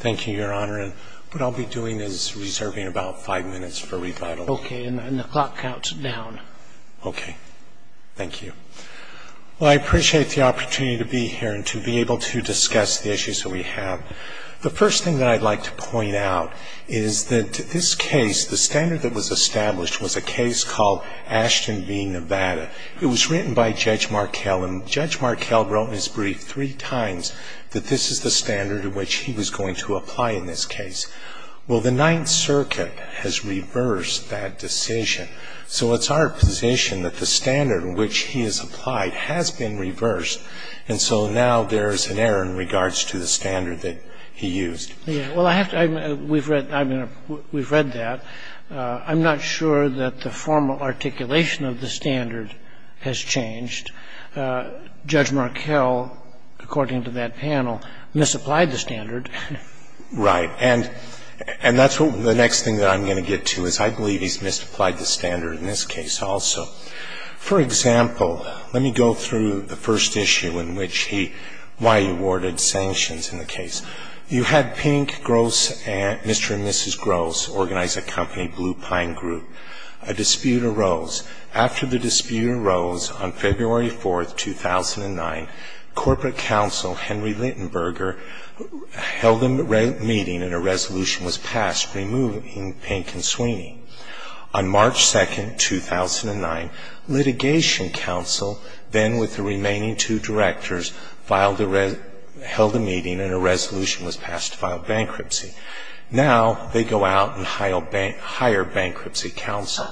Thank you, Your Honor. What I'll be doing is reserving about five minutes for rebuttal. Okay. And the clock counts down. Okay. Thank you. Well, I appreciate the opportunity to be here and to be able to discuss the issues that we have. The first thing that I'd like to point out is that this case, the standard that was established, was a case called Ashton v. Nevada. It was written by Judge Markell, and Judge Markell wrote in his brief three times that this is the standard in which he was going to apply in this case. Well, the Ninth Circuit has reversed that decision. So it's our position that the standard in which he has applied has been reversed, and so now there is an error in regards to the standard that he used. Well, we've read that. I'm not sure that the formal articulation of the standard has changed. Judge Markell, according to that panel, misapplied the standard. Right. And that's what the next thing that I'm going to get to is I believe he's misapplied the standard in this case also. For example, let me go through the first issue in which he why he awarded sanctions in the case. You had Pink, Gross, and Mr. and Mrs. Gross organize a company, Blue Pine Group. A dispute arose. After the dispute arose on February 4th, 2009, Corporate Counsel Henry Littenberger held a meeting and a resolution was passed removing Pink and Sweeney. On March 2nd, 2009, Litigation Counsel, then with the remaining two directors, held a meeting and a resolution was passed to file bankruptcy. Now they go out and hire Bankruptcy Counsel.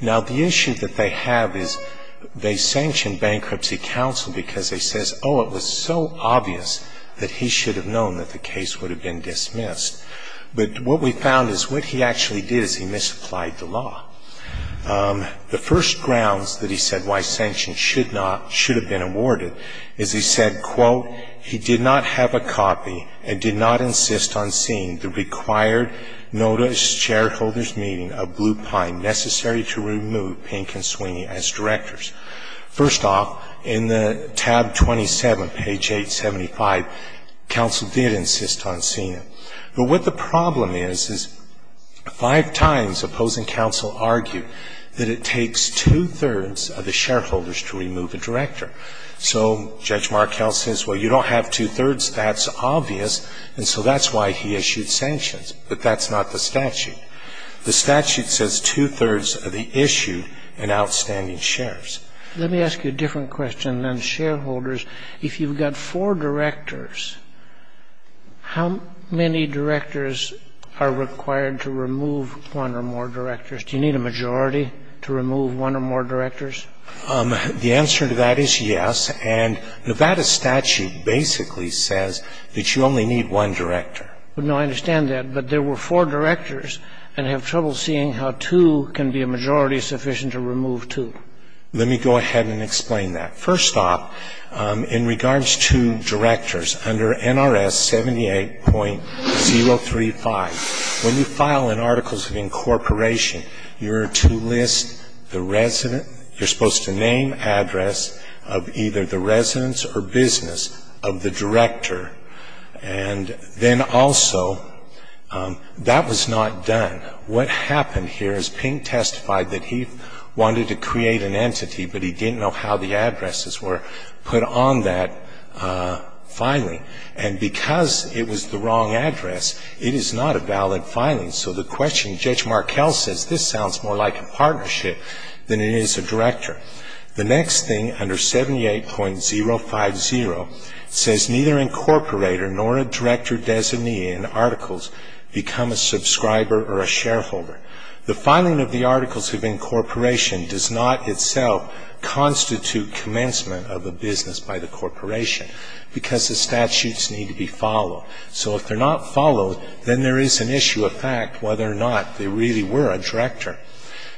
Now the issue that they have is they sanction Bankruptcy Counsel because they say, oh, it was so obvious that he should have known that the case would have been dismissed. But what we found is what he actually did is he misapplied the law. The first grounds that he said why sanctions should not, should have been awarded is he said, quote, he did not have a copy and did not insist on seeing the required Notice shareholders meeting of Blue Pine necessary to remove Pink and Sweeney as directors. First off, in the tab 27, page 875, counsel did insist on seeing it. But what the problem is, is five times opposing counsel argued that it takes two-thirds of the shareholders to remove a director. So Judge Markell says, well, you don't have two-thirds, that's obvious, and so that's why he issued sanctions. But that's not the statute. The statute says two-thirds of the issued and outstanding shares. Let me ask you a different question on shareholders. If you've got four directors, how many directors are required to remove one or more directors? Do you need a majority to remove one or more directors? The answer to that is yes. And Nevada statute basically says that you only need one director. But, no, I understand that. But there were four directors, and I have trouble seeing how two can be a majority sufficient to remove two. Let me go ahead and explain that. First off, in regards to directors, under NRS 78.035, when you file an articles of incorporation, you're to list the resident. You're supposed to name address of either the residence or business of the director and then also that was not done. What happened here is Pink testified that he wanted to create an entity, but he didn't know how the addresses were put on that filing. And because it was the wrong address, it is not a valid filing. So the question, Judge Markell says, this sounds more like a partnership than it is a director. The next thing under 78.050 says neither incorporator nor a director designee in articles become a subscriber or a shareholder. The filing of the articles of incorporation does not itself constitute commencement of a business by the corporation because the statutes need to be followed. So if they're not followed, then there is an issue of fact whether or not they really were a director.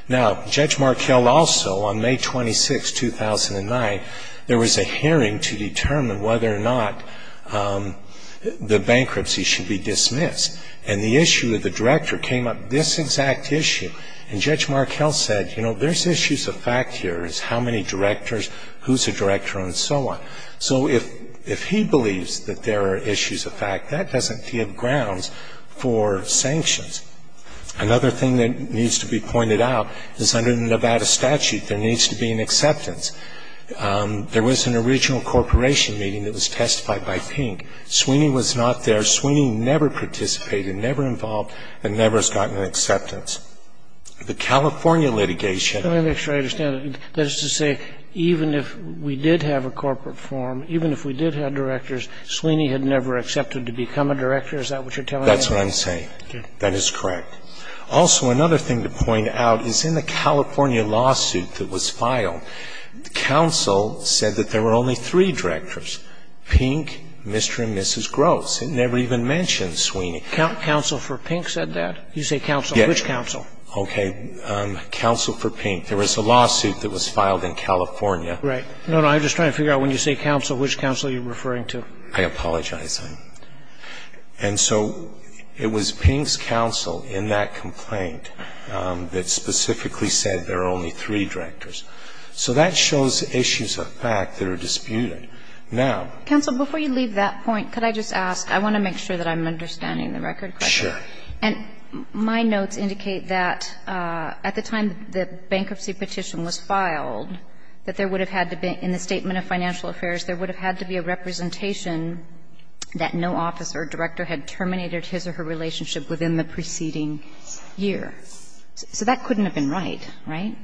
Now, Judge Markell also on May 26, 2009, there was a hearing to determine whether or not the bankruptcy should be dismissed. And the issue of the director came up, this exact issue. And Judge Markell said, you know, there's issues of fact here. It's how many directors, who's a director and so on. So if he believes that there are issues of fact, that doesn't give grounds for sanctions. Another thing that needs to be pointed out is under the Nevada statute, there needs to be an acceptance. There was an original corporation meeting that was testified by Pink. Sweeney was not there. Sweeney never participated, never involved, and never has gotten an acceptance. The California litigation. Scalia. Let me make sure I understand. That is to say, even if we did have a corporate form, even if we did have directors, Sweeney had never accepted to become a director? Is that what you're telling me? That's what I'm saying. That is correct. Also, another thing to point out is in the California lawsuit that was filed, counsel said that there were only three directors, Pink, Mr. and Mrs. Gross. It never even mentioned Sweeney. Counsel for Pink said that? You say counsel. Which counsel? Okay. Counsel for Pink. There was a lawsuit that was filed in California. Right. No, no. I'm just trying to figure out when you say counsel, which counsel are you referring I apologize. And so it was Pink's counsel in that complaint that specifically said there were only three directors. So that shows issues of fact that are disputed. Now. Counsel, before you leave that point, could I just ask? I want to make sure that I'm understanding the record correctly. Sure. And my notes indicate that at the time the bankruptcy petition was filed, that there would have had to be a representation that no officer or director had terminated his or her relationship within the preceding year. So that couldn't have been right, right?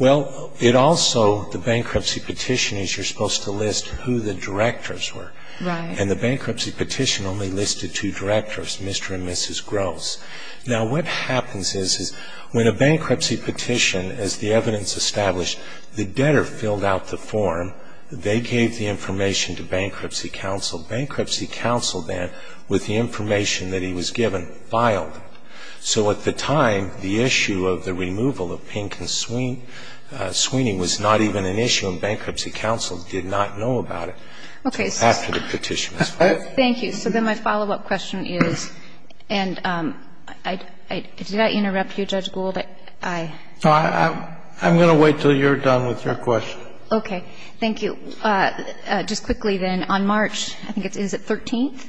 Well, it also, the bankruptcy petition is you're supposed to list who the directors were. Right. And the bankruptcy petition only listed two directors, Mr. and Mrs. Gross. Now, what happens is, is when a bankruptcy petition, as the evidence established, the debtor filled out the form. They gave the information to bankruptcy counsel. Bankruptcy counsel then, with the information that he was given, filed it. So at the time, the issue of the removal of Pink and Sweeney was not even an issue and bankruptcy counsel did not know about it. Okay. After the petition was filed. Thank you. So then my follow-up question is, and did I interrupt you, Judge Gould? I. I'm going to wait until you're done with your question. Okay. Thank you. Just quickly then, on March, I think it is the 13th,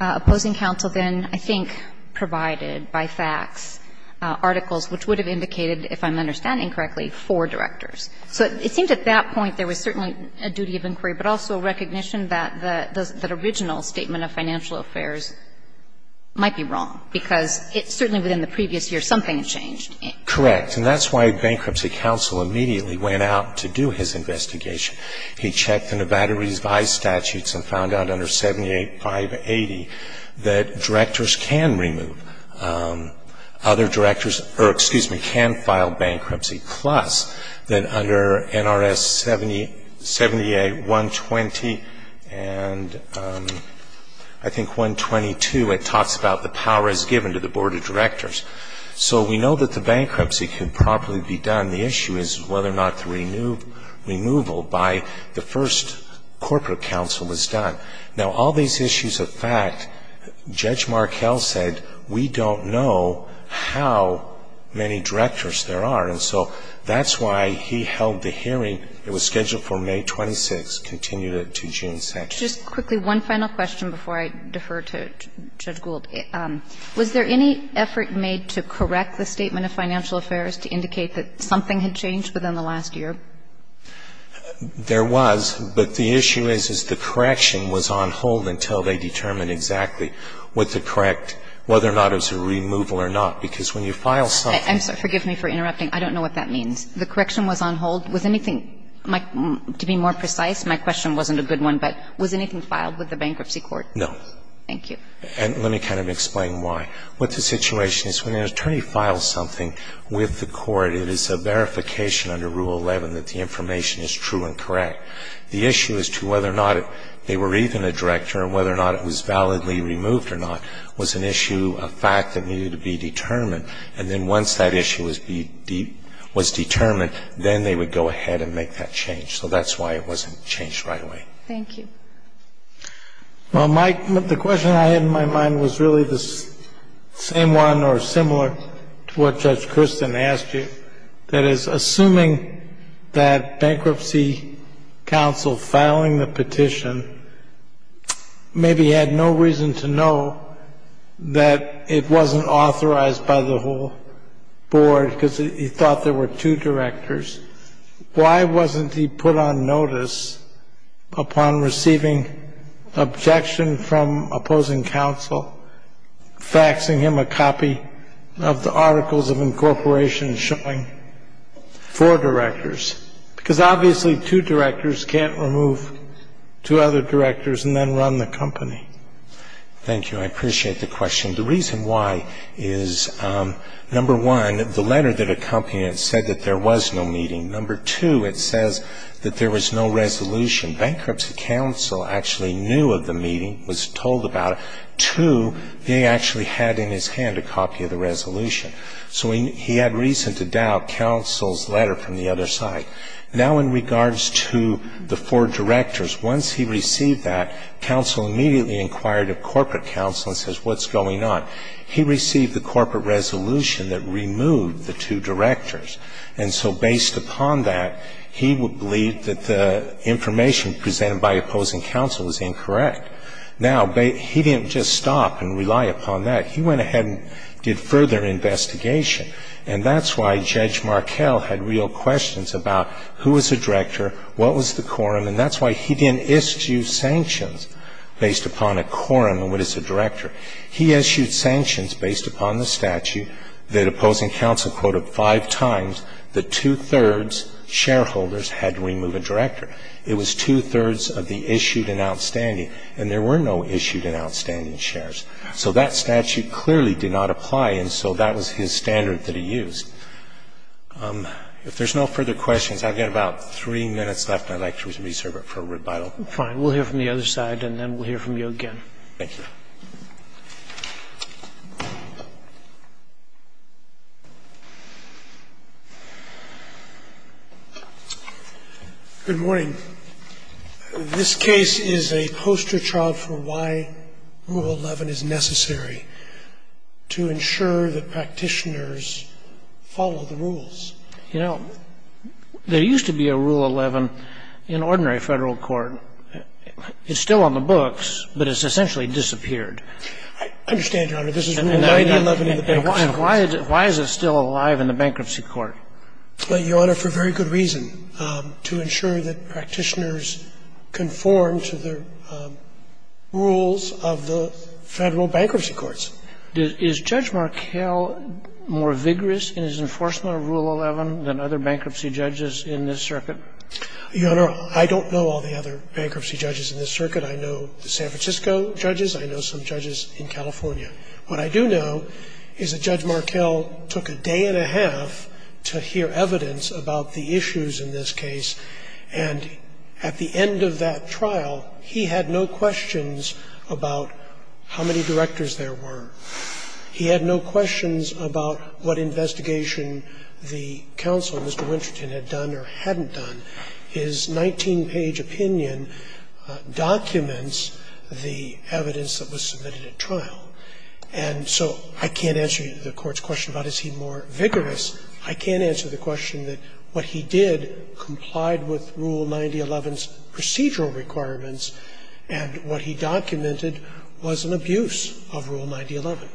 opposing counsel then, I think, provided by fax articles which would have indicated, if I'm understanding correctly, four directors. So it seems at that point there was certainly a duty of inquiry, but also recognition that the original statement of financial affairs might be wrong, because it certainly within the previous year something changed. Correct. And that's why bankruptcy counsel immediately went out to do his investigation. He checked the Nevada Revised Statutes and found out under 78, 580, that directors can remove. Other directors, or excuse me, can file bankruptcy, plus that under NRS 78, 120, and I think 122, it talks about the power as given to the board of directors. So we know that the bankruptcy could properly be done. The issue is whether or not the removal by the first corporate counsel was done. Now, all these issues of fact, Judge Markell said, we don't know how many directors there are. And so that's why he held the hearing. It was scheduled for May 26th, continued it to June 2nd. Just quickly, one final question before I defer to Judge Gould. Was there any effort made to correct the statement of financial affairs to indicate that something had changed within the last year? There was. But the issue is, is the correction was on hold until they determined exactly what to correct, whether or not it was a removal or not. Because when you file something. I'm sorry. Forgive me for interrupting. I don't know what that means. The correction was on hold. Was anything, to be more precise, my question wasn't a good one, but was anything filed with the bankruptcy court? Thank you. And let me kind of explain why. What the situation is, when an attorney files something with the court, it is a verification under Rule 11 that the information is true and correct. The issue as to whether or not they were even a director and whether or not it was validly removed or not was an issue, a fact that needed to be determined. And then once that issue was determined, then they would go ahead and make that change. So that's why it wasn't changed right away. Thank you. Well, Mike, the question I had in my mind was really the same one or similar to what Judge Christin asked you. That is, assuming that bankruptcy counsel filing the petition maybe had no reason to know that it wasn't authorized by the whole board because he thought there were two directors, why wasn't he put on notice upon receiving objection from opposing counsel faxing him a copy of the Articles of Incorporation showing four directors? Because obviously two directors can't remove two other directors and then run the company. Thank you. I appreciate the question. The reason why is, number one, the letter that accompanied it said that there was no meeting. Number two, it says that there was no resolution. Bankruptcy counsel actually knew of the meeting, was told about it. Two, they actually had in his hand a copy of the resolution. So he had reason to doubt counsel's letter from the other side. Now in regards to the four directors, once he received that, counsel immediately inquired a corporate counsel and says, what's going on? He received the corporate resolution that removed the two directors. And so based upon that, he would believe that the information presented by opposing counsel was incorrect. Now, he didn't just stop and rely upon that. He went ahead and did further investigation. And that's why Judge Markell had real questions about who was the director, what was the quorum, and that's why he didn't issue sanctions based upon a quorum and what is a director. He issued sanctions based upon the statute that opposing counsel quoted five times that two-thirds shareholders had to remove a director. It was two-thirds of the issued and outstanding. And there were no issued and outstanding shares. So that statute clearly did not apply. And so that was his standard that he used. If there's no further questions, I've got about three minutes left, and I'd like to reserve it for rebuttal. Fine. We'll hear from the other side, and then we'll hear from you again. Thank you. Good morning. This case is a poster child for why Rule 11 is necessary to ensure that practitioners follow the rules. You know, there used to be a Rule 11 in ordinary Federal court. It's still on the books, but it's essentially disappeared. I understand, Your Honor. This is Rule 9-11 in the bankruptcy court. And why is it still alive in the bankruptcy court? Your Honor, for very good reason, to ensure that practitioners conform to the rules of the Federal bankruptcy courts. Is Judge Markell more vigorous in his enforcement of Rule 11 than other bankruptcy judges in this circuit? Your Honor, I don't know all the other bankruptcy judges in this circuit. I know the San Francisco judges. I know some judges in California. What I do know is that Judge Markell took a day and a half to hear evidence about the issues in this case. And at the end of that trial, he had no questions about how many directors there were. He had no questions about what investigation the counsel, Mr. Wincherton, had done or hadn't done. His 19-page opinion documents the evidence that was submitted at trial. And so I can't answer the Court's question about is he more vigorous. I can't answer the question that what he did complied with Rule 9011's procedural requirements, and what he documented was an abuse of Rule 9011.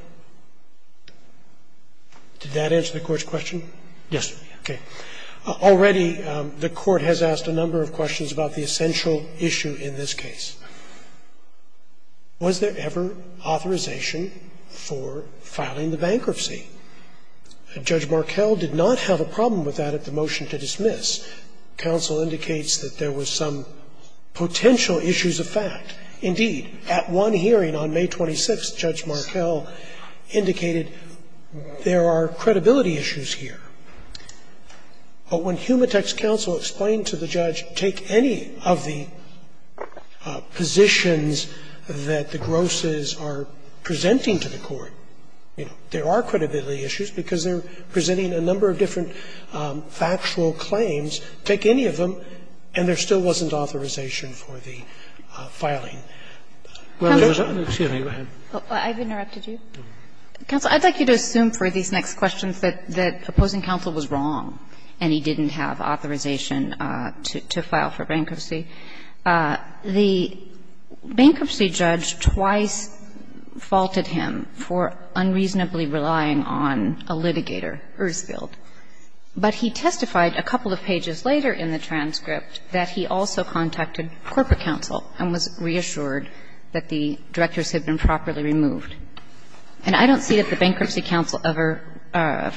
Did that answer the Court's question? Yes, Your Honor. Okay. Already, the Court has asked a number of questions about the essential issue in this case. Was there ever authorization for filing the bankruptcy? Judge Markell did not have a problem with that at the motion to dismiss. Counsel indicates that there were some potential issues of fact. Indeed, at one hearing on May 26th, Judge Markell indicated there are credibility issues here. But when Humatex counsel explained to the judge, take any of the positions that the grosses are presenting to the Court. There are credibility issues because they're presenting a number of different factual claims. Take any of them, and there still wasn't authorization for the filing. Excuse me. Go ahead. I've interrupted you. Counsel, I'd like you to assume for these next questions that opposing counsel was wrong and he didn't have authorization to file for bankruptcy. The bankruptcy judge twice faulted him for unreasonably relying on a litigator, Ursfeld. But he testified a couple of pages later in the transcript that he also contacted corporate counsel and was reassured that the directors had been properly removed. And I don't see that the bankruptcy counsel ever,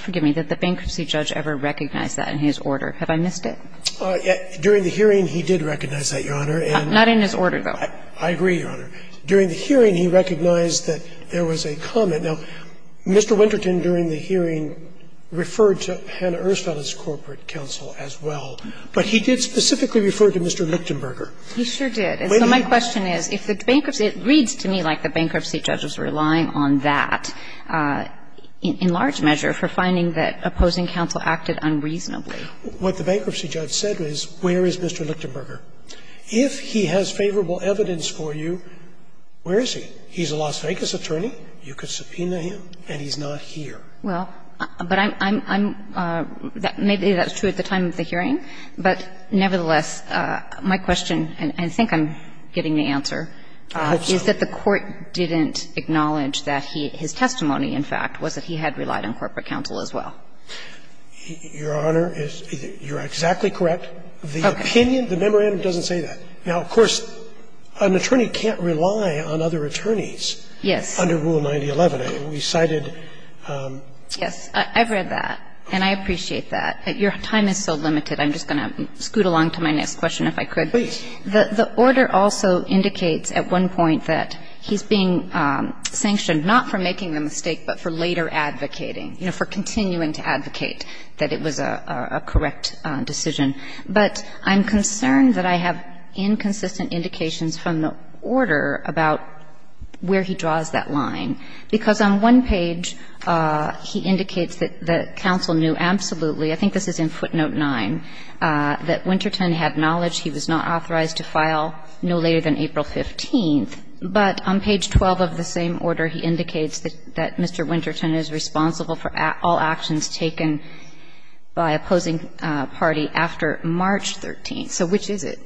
forgive me, that the bankruptcy judge ever recognized that in his order. Have I missed it? During the hearing, he did recognize that, Your Honor. Not in his order, though. I agree, Your Honor. During the hearing, he recognized that there was a comment. Now, Mr. Winterton, during the hearing, referred to Hannah Ursfeld as corporate counsel as well. But he did specifically refer to Mr. Lichtenberger. He sure did. And so my question is, if the bankruptcy – it reads to me like the bankruptcy judge was relying on that in large measure for finding that opposing counsel acted unreasonably. What the bankruptcy judge said is, where is Mr. Lichtenberger? If he has favorable evidence for you, where is he? He's a Las Vegas attorney. You could subpoena him, and he's not here. Well, but I'm – maybe that's true at the time of the hearing. But nevertheless, my question, and I think I'm getting the answer, is that the court didn't acknowledge that his testimony, in fact, was that he had relied on corporate counsel as well. Your Honor, you're exactly correct. The opinion, the memorandum doesn't say that. Now, of course, an attorney can't rely on other attorneys. Yes. Under Rule 9011. We cited – Yes. I've read that, and I appreciate that. Your time is so limited. I'm just going to scoot along to my next question, if I could. Please. The order also indicates at one point that he's being sanctioned not for making the mistake, but for later advocating, you know, for continuing to advocate that it was a correct decision. But I'm concerned that I have inconsistent indications from the order about where he draws that line, because on one page he indicates that the counsel knew absolutely – I think this is in footnote 9 – that Winterton had knowledge he was not authorized to file no later than April 15th, but on page 12 of the same order, he indicates that Mr. Winterton is responsible for all actions taken by opposing party after March 13th. So which is it?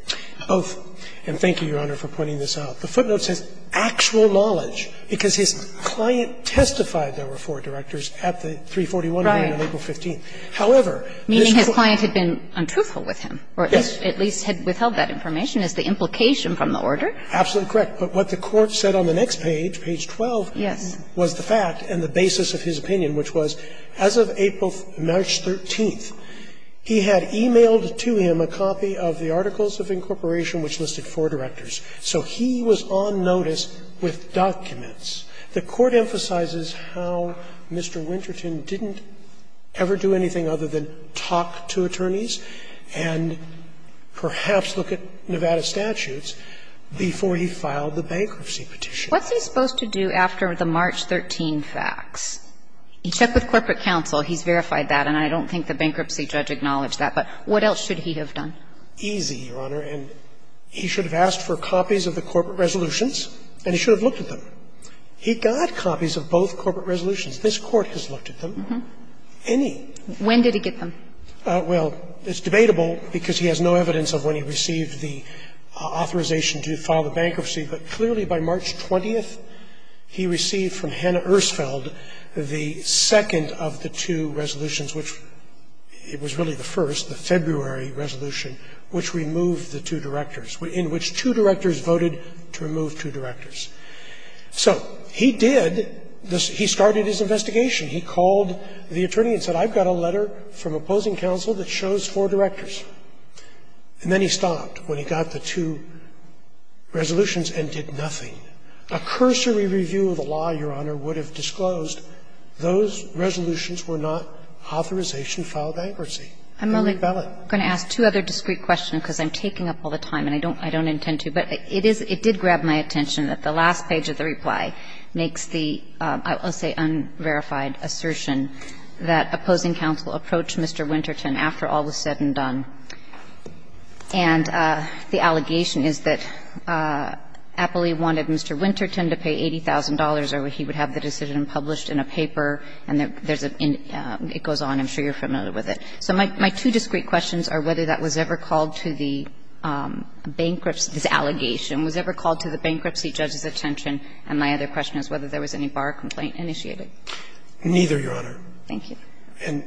Both. And thank you, Your Honor, for pointing this out. The footnote says actual knowledge, because his client testified there were four directors at the 341 meeting on April 15th. Right. Meaning his client had been untruthful with him. Yes. Or at least had withheld that information as the implication from the order. Absolutely correct. But what the Court said on the next page, page 12, was the fact and the basis of his opinion, which was as of April – March 13th, he had emailed to him a copy of the Articles of Incorporation, which listed four directors. So he was on notice with documents. The Court emphasizes how Mr. Winterton didn't ever do anything other than talk to attorneys and perhaps look at Nevada statutes before he filed the bankruptcy petition. What's he supposed to do after the March 13th facts? He checked with corporate counsel. He's verified that. And I don't think the bankruptcy judge acknowledged that. But what else should he have done? Easy, Your Honor. And he should have asked for copies of the corporate resolutions, and he should have looked at them. He got copies of both corporate resolutions. This Court has looked at them. Any. When did he get them? Well, it's debatable because he has no evidence of when he received the authorization to file the bankruptcy, but clearly by March 20th, he received from Hannah Ersfeld the second of the two resolutions, which it was really the first, the February resolution, which removed the two directors, in which two directors voted to remove two directors. So he did this. He started his investigation. He called the attorney and said, I've got a letter from opposing counsel that shows four directors. And then he stopped when he got the two resolutions and did nothing. A cursory review of the law, Your Honor, would have disclosed those resolutions were not authorization to file bankruptcy. They were valid. I'm only going to ask two other discrete questions because I'm taking up all the time and I don't intend to, but it did grab my attention that the last page of the reply makes the, I'll say, unverified assertion that opposing counsel approached Mr. Winterton after all was said and done. And the allegation is that Appley wanted Mr. Winterton to pay $80,000 or he would have the decision published in a paper, and there's a, it goes on. I'm sure you're familiar with it. So my two discrete questions are whether that was ever called to the bankruptcy judge's attention, and my other question is whether there was any bar complaint initiated. Neither, Your Honor. Thank you. And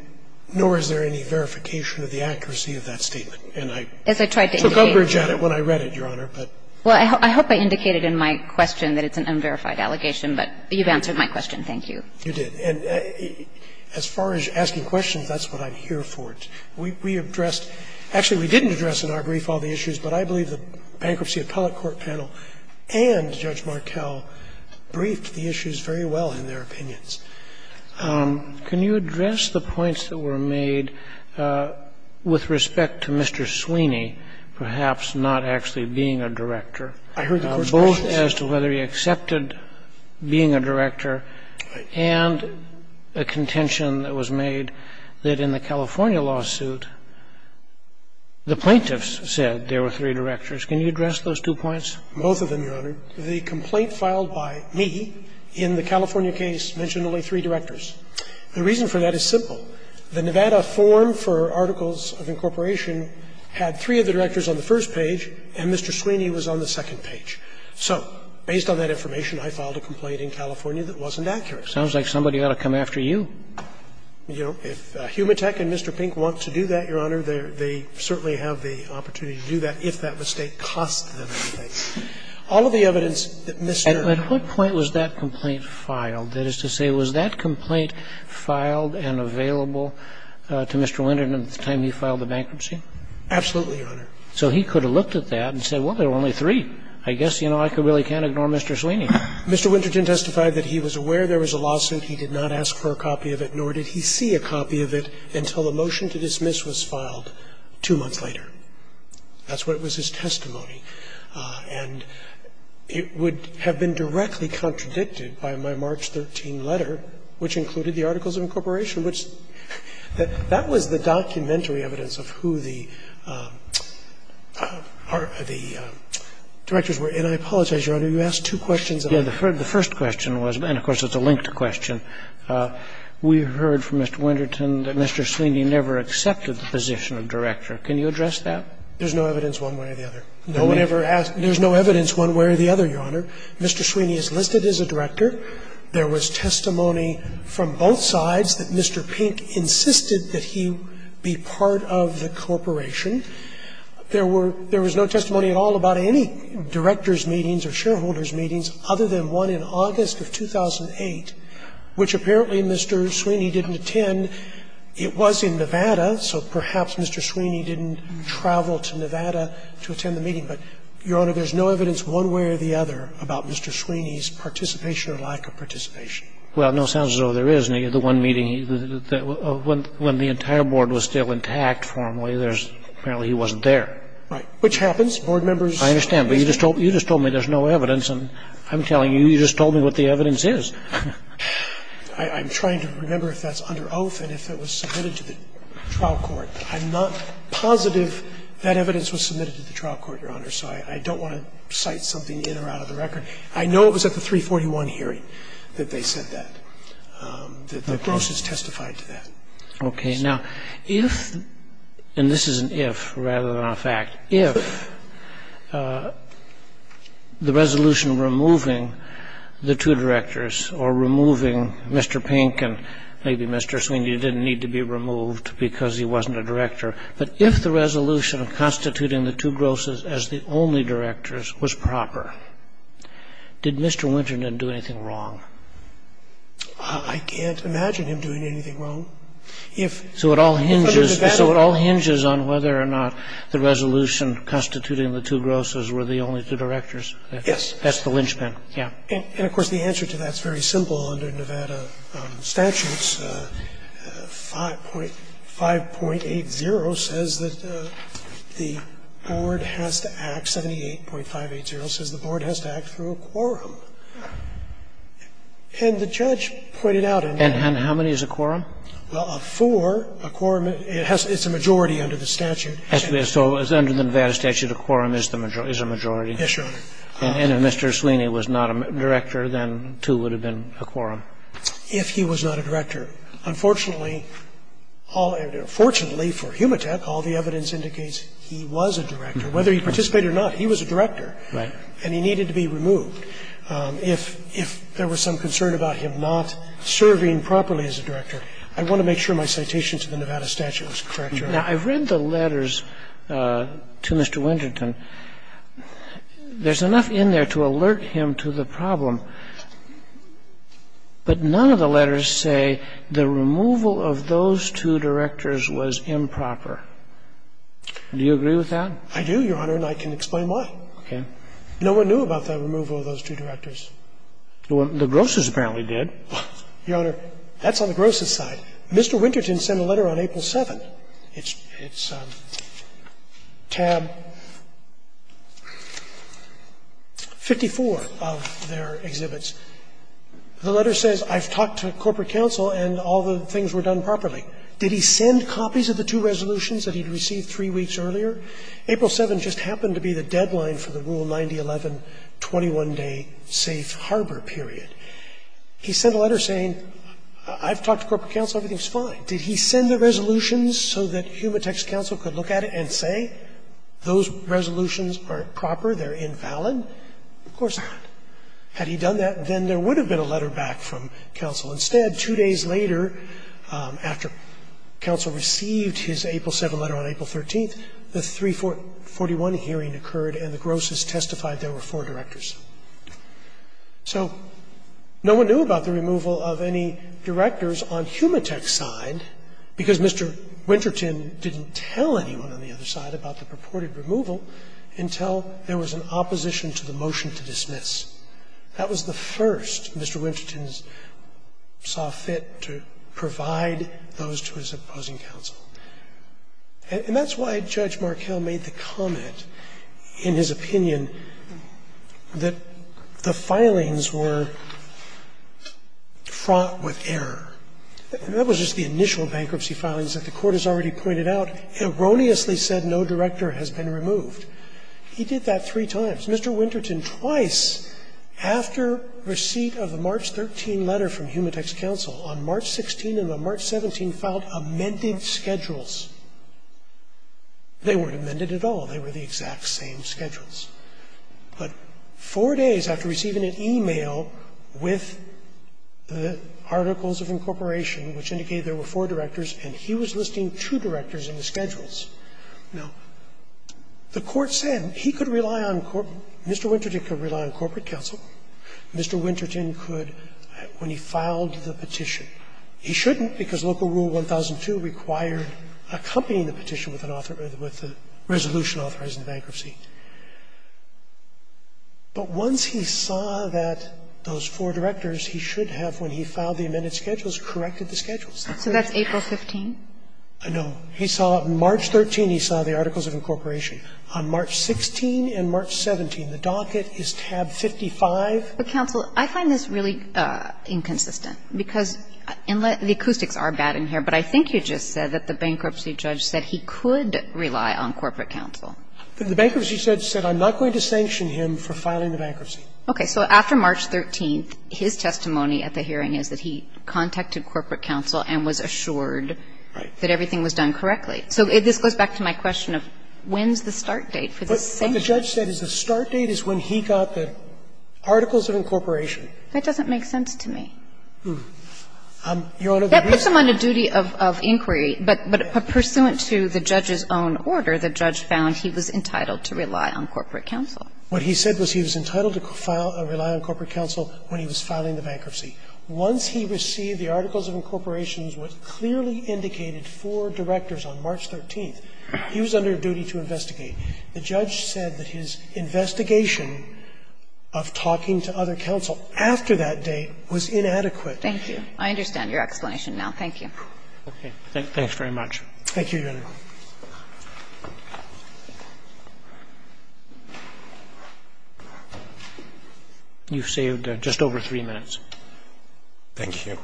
nor is there any verification of the accuracy of that statement. And I took umbrage at it when I read it, Your Honor, but. Well, I hope I indicated in my question that it's an unverified allegation. But you've answered my question. Thank you. You did. And as far as asking questions, that's what I'm here for. We addressed – actually, we didn't address in our brief all the issues, but I believe the bankruptcy appellate court panel and Judge Markell briefed the issues very well in their opinions. Can you address the points that were made with respect to Mr. Sweeney perhaps not actually being a director, both as to whether he accepted being a director and a contention that was made that in the California lawsuit, the plaintiffs said there were three directors. Can you address those two points? Both of them, Your Honor. The complaint filed by me in the California case mentioned only three directors. The reason for that is simple. The Nevada form for articles of incorporation had three of the directors on the first page, and Mr. Sweeney was on the second page. So based on that information, I filed a complaint in California that wasn't accurate. Sounds like somebody ought to come after you. You know, if Humatech and Mr. Pink want to do that, Your Honor, they certainly have the opportunity to do that if that mistake costs them anything. All of the evidence that Mr. ---- At what point was that complaint filed? That is to say, was that complaint filed and available to Mr. Winterton at the time he filed the bankruptcy? Absolutely, Your Honor. So he could have looked at that and said, well, there are only three. I guess, you know, I really can't ignore Mr. Sweeney. Mr. Winterton testified that he was aware there was a lawsuit. He did not ask for a copy of it, nor did he see a copy of it until the motion to dismiss was filed two months later. That's what was his testimony. And it would have been directly contradicted by my March 13 letter, which included the Articles of Incorporation, which that was the documentary evidence of who the directors were. And I apologize, Your Honor, you asked two questions. Yes. The first question was, and of course it's a linked question, we heard from Mr. Sweeney that Mr. Pink insisted that Mr. Sweeney be part of the corporation. There was no testimony at all about any directors' meetings or shareholders' meetings other than one in August of 2008, which apparently Mr. Sweeney didn't attend. So perhaps Mr. Sweeney didn't travel to Nevada to attend the meeting. But, Your Honor, there's no evidence one way or the other about Mr. Sweeney's participation or lack of participation. Well, it no sounds as though there is. In the one meeting, when the entire board was still intact formally, there's apparently he wasn't there. Right. Which happens. Board members. I understand. But you just told me there's no evidence. And I'm telling you, you just told me what the evidence is. I'm trying to remember if that's under oath and if it was submitted to the trial court. I'm not positive that evidence was submitted to the trial court, Your Honor, so I don't want to cite something in or out of the record. I know it was at the 341 hearing that they said that, that the grosses testified to that. Okay. Now, if, and this is an if rather than a fact, if the resolution removing the two directors or removing Mr. Pink and maybe Mr. Sweeney didn't need to be removed because he wasn't a director, but if the resolution of constituting the two grosses as the only directors was proper, did Mr. Winter didn't do anything wrong? I can't imagine him doing anything wrong. So it all hinges on whether or not the resolution constituting the two grosses were the only two directors. That's the lynchpin. Yeah. And, of course, the answer to that is very simple under Nevada statutes. 5.80 says that the board has to act, 78.580 says the board has to act through a quorum. And the judge pointed out in that. And how many is a quorum? Well, a four. A quorum, it's a majority under the statute. So under the Nevada statute, a quorum is a majority? Yes, Your Honor. And if Mr. Sweeney was not a director, then two would have been a quorum. If he was not a director. Unfortunately, fortunately for Humatech, all the evidence indicates he was a director. Whether he participated or not, he was a director. Right. And he needed to be removed. If there was some concern about him not serving properly as a director, I want to make sure my citation to the Nevada statute was correct, Your Honor. Now, I've read the letters to Mr. Winterton. There's enough in there to alert him to the problem, but none of the letters say the removal of those two directors was improper. Do you agree with that? I do, Your Honor, and I can explain why. Okay. No one knew about the removal of those two directors. The Grosses apparently did. Your Honor, that's on the Grosses' side. Mr. Winterton sent a letter on April 7th. It's tab 54 of their exhibits. The letter says, I've talked to corporate counsel and all the things were done properly. Did he send copies of the two resolutions that he'd received three weeks earlier? April 7th just happened to be the deadline for the Rule 9011 21-day safe harbor period. He sent a letter saying, I've talked to corporate counsel. Everything's fine. Did he send the resolutions so that Humatex counsel could look at it and say those resolutions aren't proper, they're invalid? Of course not. Had he done that, then there would have been a letter back from counsel. Instead, two days later, after counsel received his April 7th letter on April 13th, the 341 hearing occurred and the Grosses testified there were four directors. So no one knew about the removal of any directors on Humatex's side, because Mr. Winterton didn't tell anyone on the other side about the purported removal until there was an opposition to the motion to dismiss. That was the first Mr. Winterton saw fit to provide those to his opposing counsel. And that's why Judge Markell made the comment in his opinion that the filings were fraught with error. That was just the initial bankruptcy filings that the Court has already pointed out, erroneously said no director has been removed. He did that three times. Mr. Winterton twice, after receipt of the March 13 letter from Humatex counsel, on March 16 and on March 17 filed amended schedules. They weren't amended at all. They were the exact same schedules. But four days after receiving an e-mail with the Articles of Incorporation, which indicated there were four directors, and he was listing two directors in the schedules. Now, the Court said he could rely on Mr. Winterton could rely on corporate counsel. Mr. Winterton could, when he filed the petition. He shouldn't, because Local Rule 1002 required accompanying the petition with an author or with a resolution authorizing bankruptcy. But once he saw that those four directors, he should have, when he filed the amended schedules, corrected the schedules. So that's April 15? No. He saw March 13, he saw the Articles of Incorporation. On March 16 and March 17, the docket is tab 55. But, counsel, I find this really inconsistent, because the acoustics are bad in here, but I think you just said that the bankruptcy judge said he could rely on corporate counsel. The bankruptcy judge said I'm not going to sanction him for filing the bankruptcy. Okay. So after March 13, his testimony at the hearing is that he contacted corporate counsel and was assured that everything was done correctly. So this goes back to my question of when's the start date for the sanction? But what the judge said is the start date is when he got the Articles of Incorporation. That doesn't make sense to me. Your Honor, the reason why. That puts him on a duty of inquiry, but pursuant to the judge's own order, the judge found he was entitled to rely on corporate counsel. What he said was he was entitled to rely on corporate counsel when he was filing the bankruptcy. Once he received the Articles of Incorporation, as was clearly indicated for directors on March 13th, he was under a duty to investigate. The judge said that his investigation of talking to other counsel after that date was inadequate. Thank you. I understand your explanation now. Thank you. Okay. Thanks very much. Thank you, Your Honor. You've saved just over three minutes. Thank you.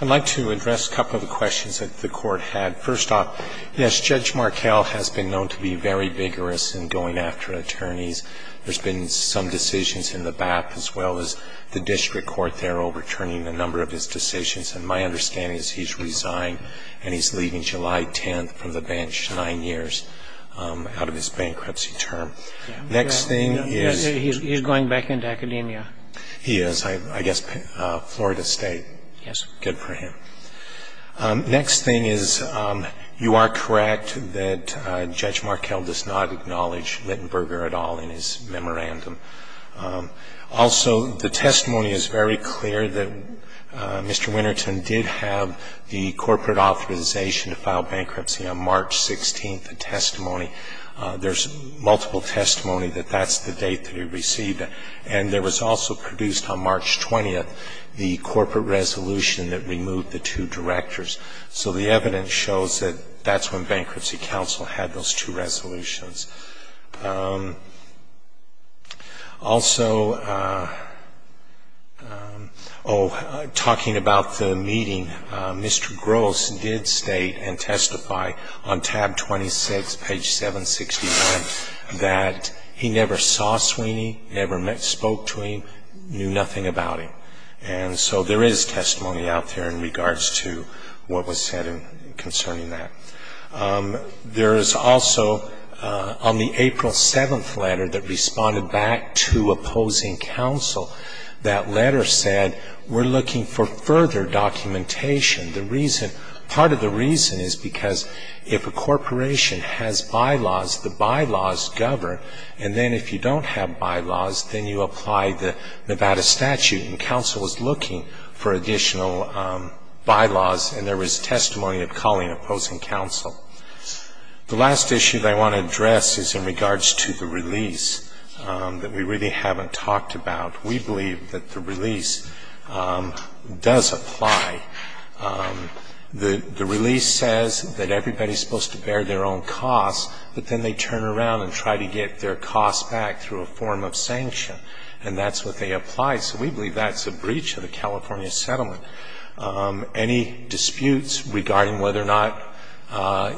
I'd like to address a couple of questions that the Court had. First off, yes, Judge Markell has been known to be very vigorous in going after attorneys. There's been some decisions in the BAP as well as the district court there overturning a number of his decisions. And my understanding is he's resigned and he's leaving July 10th from the bench nine years out of his bankruptcy term. Next thing is he's going back into academia. He is. I guess Florida State. Yes. Good for him. Next thing is you are correct that Judge Markell does not acknowledge Littenberger at all in his memorandum. Also, the testimony is very clear that Mr. Winterton did have the corporate authorization to file bankruptcy on March 16th, the testimony. There's multiple testimony that that's the date that he received it. And there was also produced on March 20th the corporate resolution that removed the two directors. So the evidence shows that that's when Bankruptcy Council had those two resolutions. Also, oh, talking about the meeting, Mr. Gross did state and testify on tab 26, page 761, that he never saw Sweeney, never spoke to him, knew nothing about him. And so there is testimony out there in regards to what was said concerning that. There is also on the April 7th letter that responded back to opposing counsel. That letter said, we're looking for further documentation. The reason, part of the reason is because if a corporation has bylaws, the bylaws govern. And then if you don't have bylaws, then you apply the Nevada statute. And counsel was looking for additional bylaws. And there was testimony of calling opposing counsel. The last issue that I want to address is in regards to the release that we really haven't talked about. We believe that the release does apply. The release says that everybody's supposed to bear their own costs, but then they turn around and try to get their costs back through a form of sanction. And that's what they apply. So we believe that's a breach of the California settlement. Any disputes regarding whether or not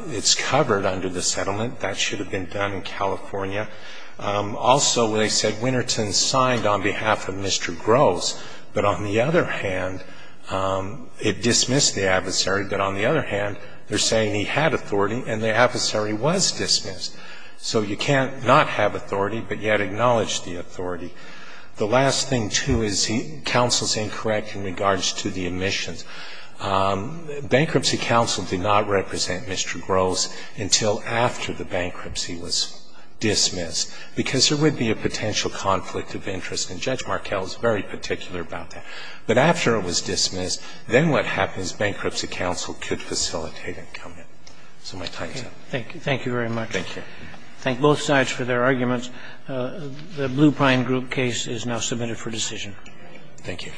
it's covered under the settlement, that should have been done in California. Also, they said Winterton signed on behalf of Mr. Groves. But on the other hand, it dismissed the adversary. But on the other hand, they're saying he had authority and the adversary was dismissed. So you can't not have authority, but yet acknowledge the authority. The last thing, too, is counsel's incorrect in regards to the admissions. Bankruptcy counsel did not represent Mr. Groves until after the bankruptcy was dismissed, because there would be a potential conflict of interest. And Judge Markell is very particular about that. But after it was dismissed, then what happens, bankruptcy counsel could facilitate and come in. So my time is up. Thank you. Thank you very much. Thank you. Thank both sides for their arguments. The Blue Pine Group case is now submitted for decision. Thank you.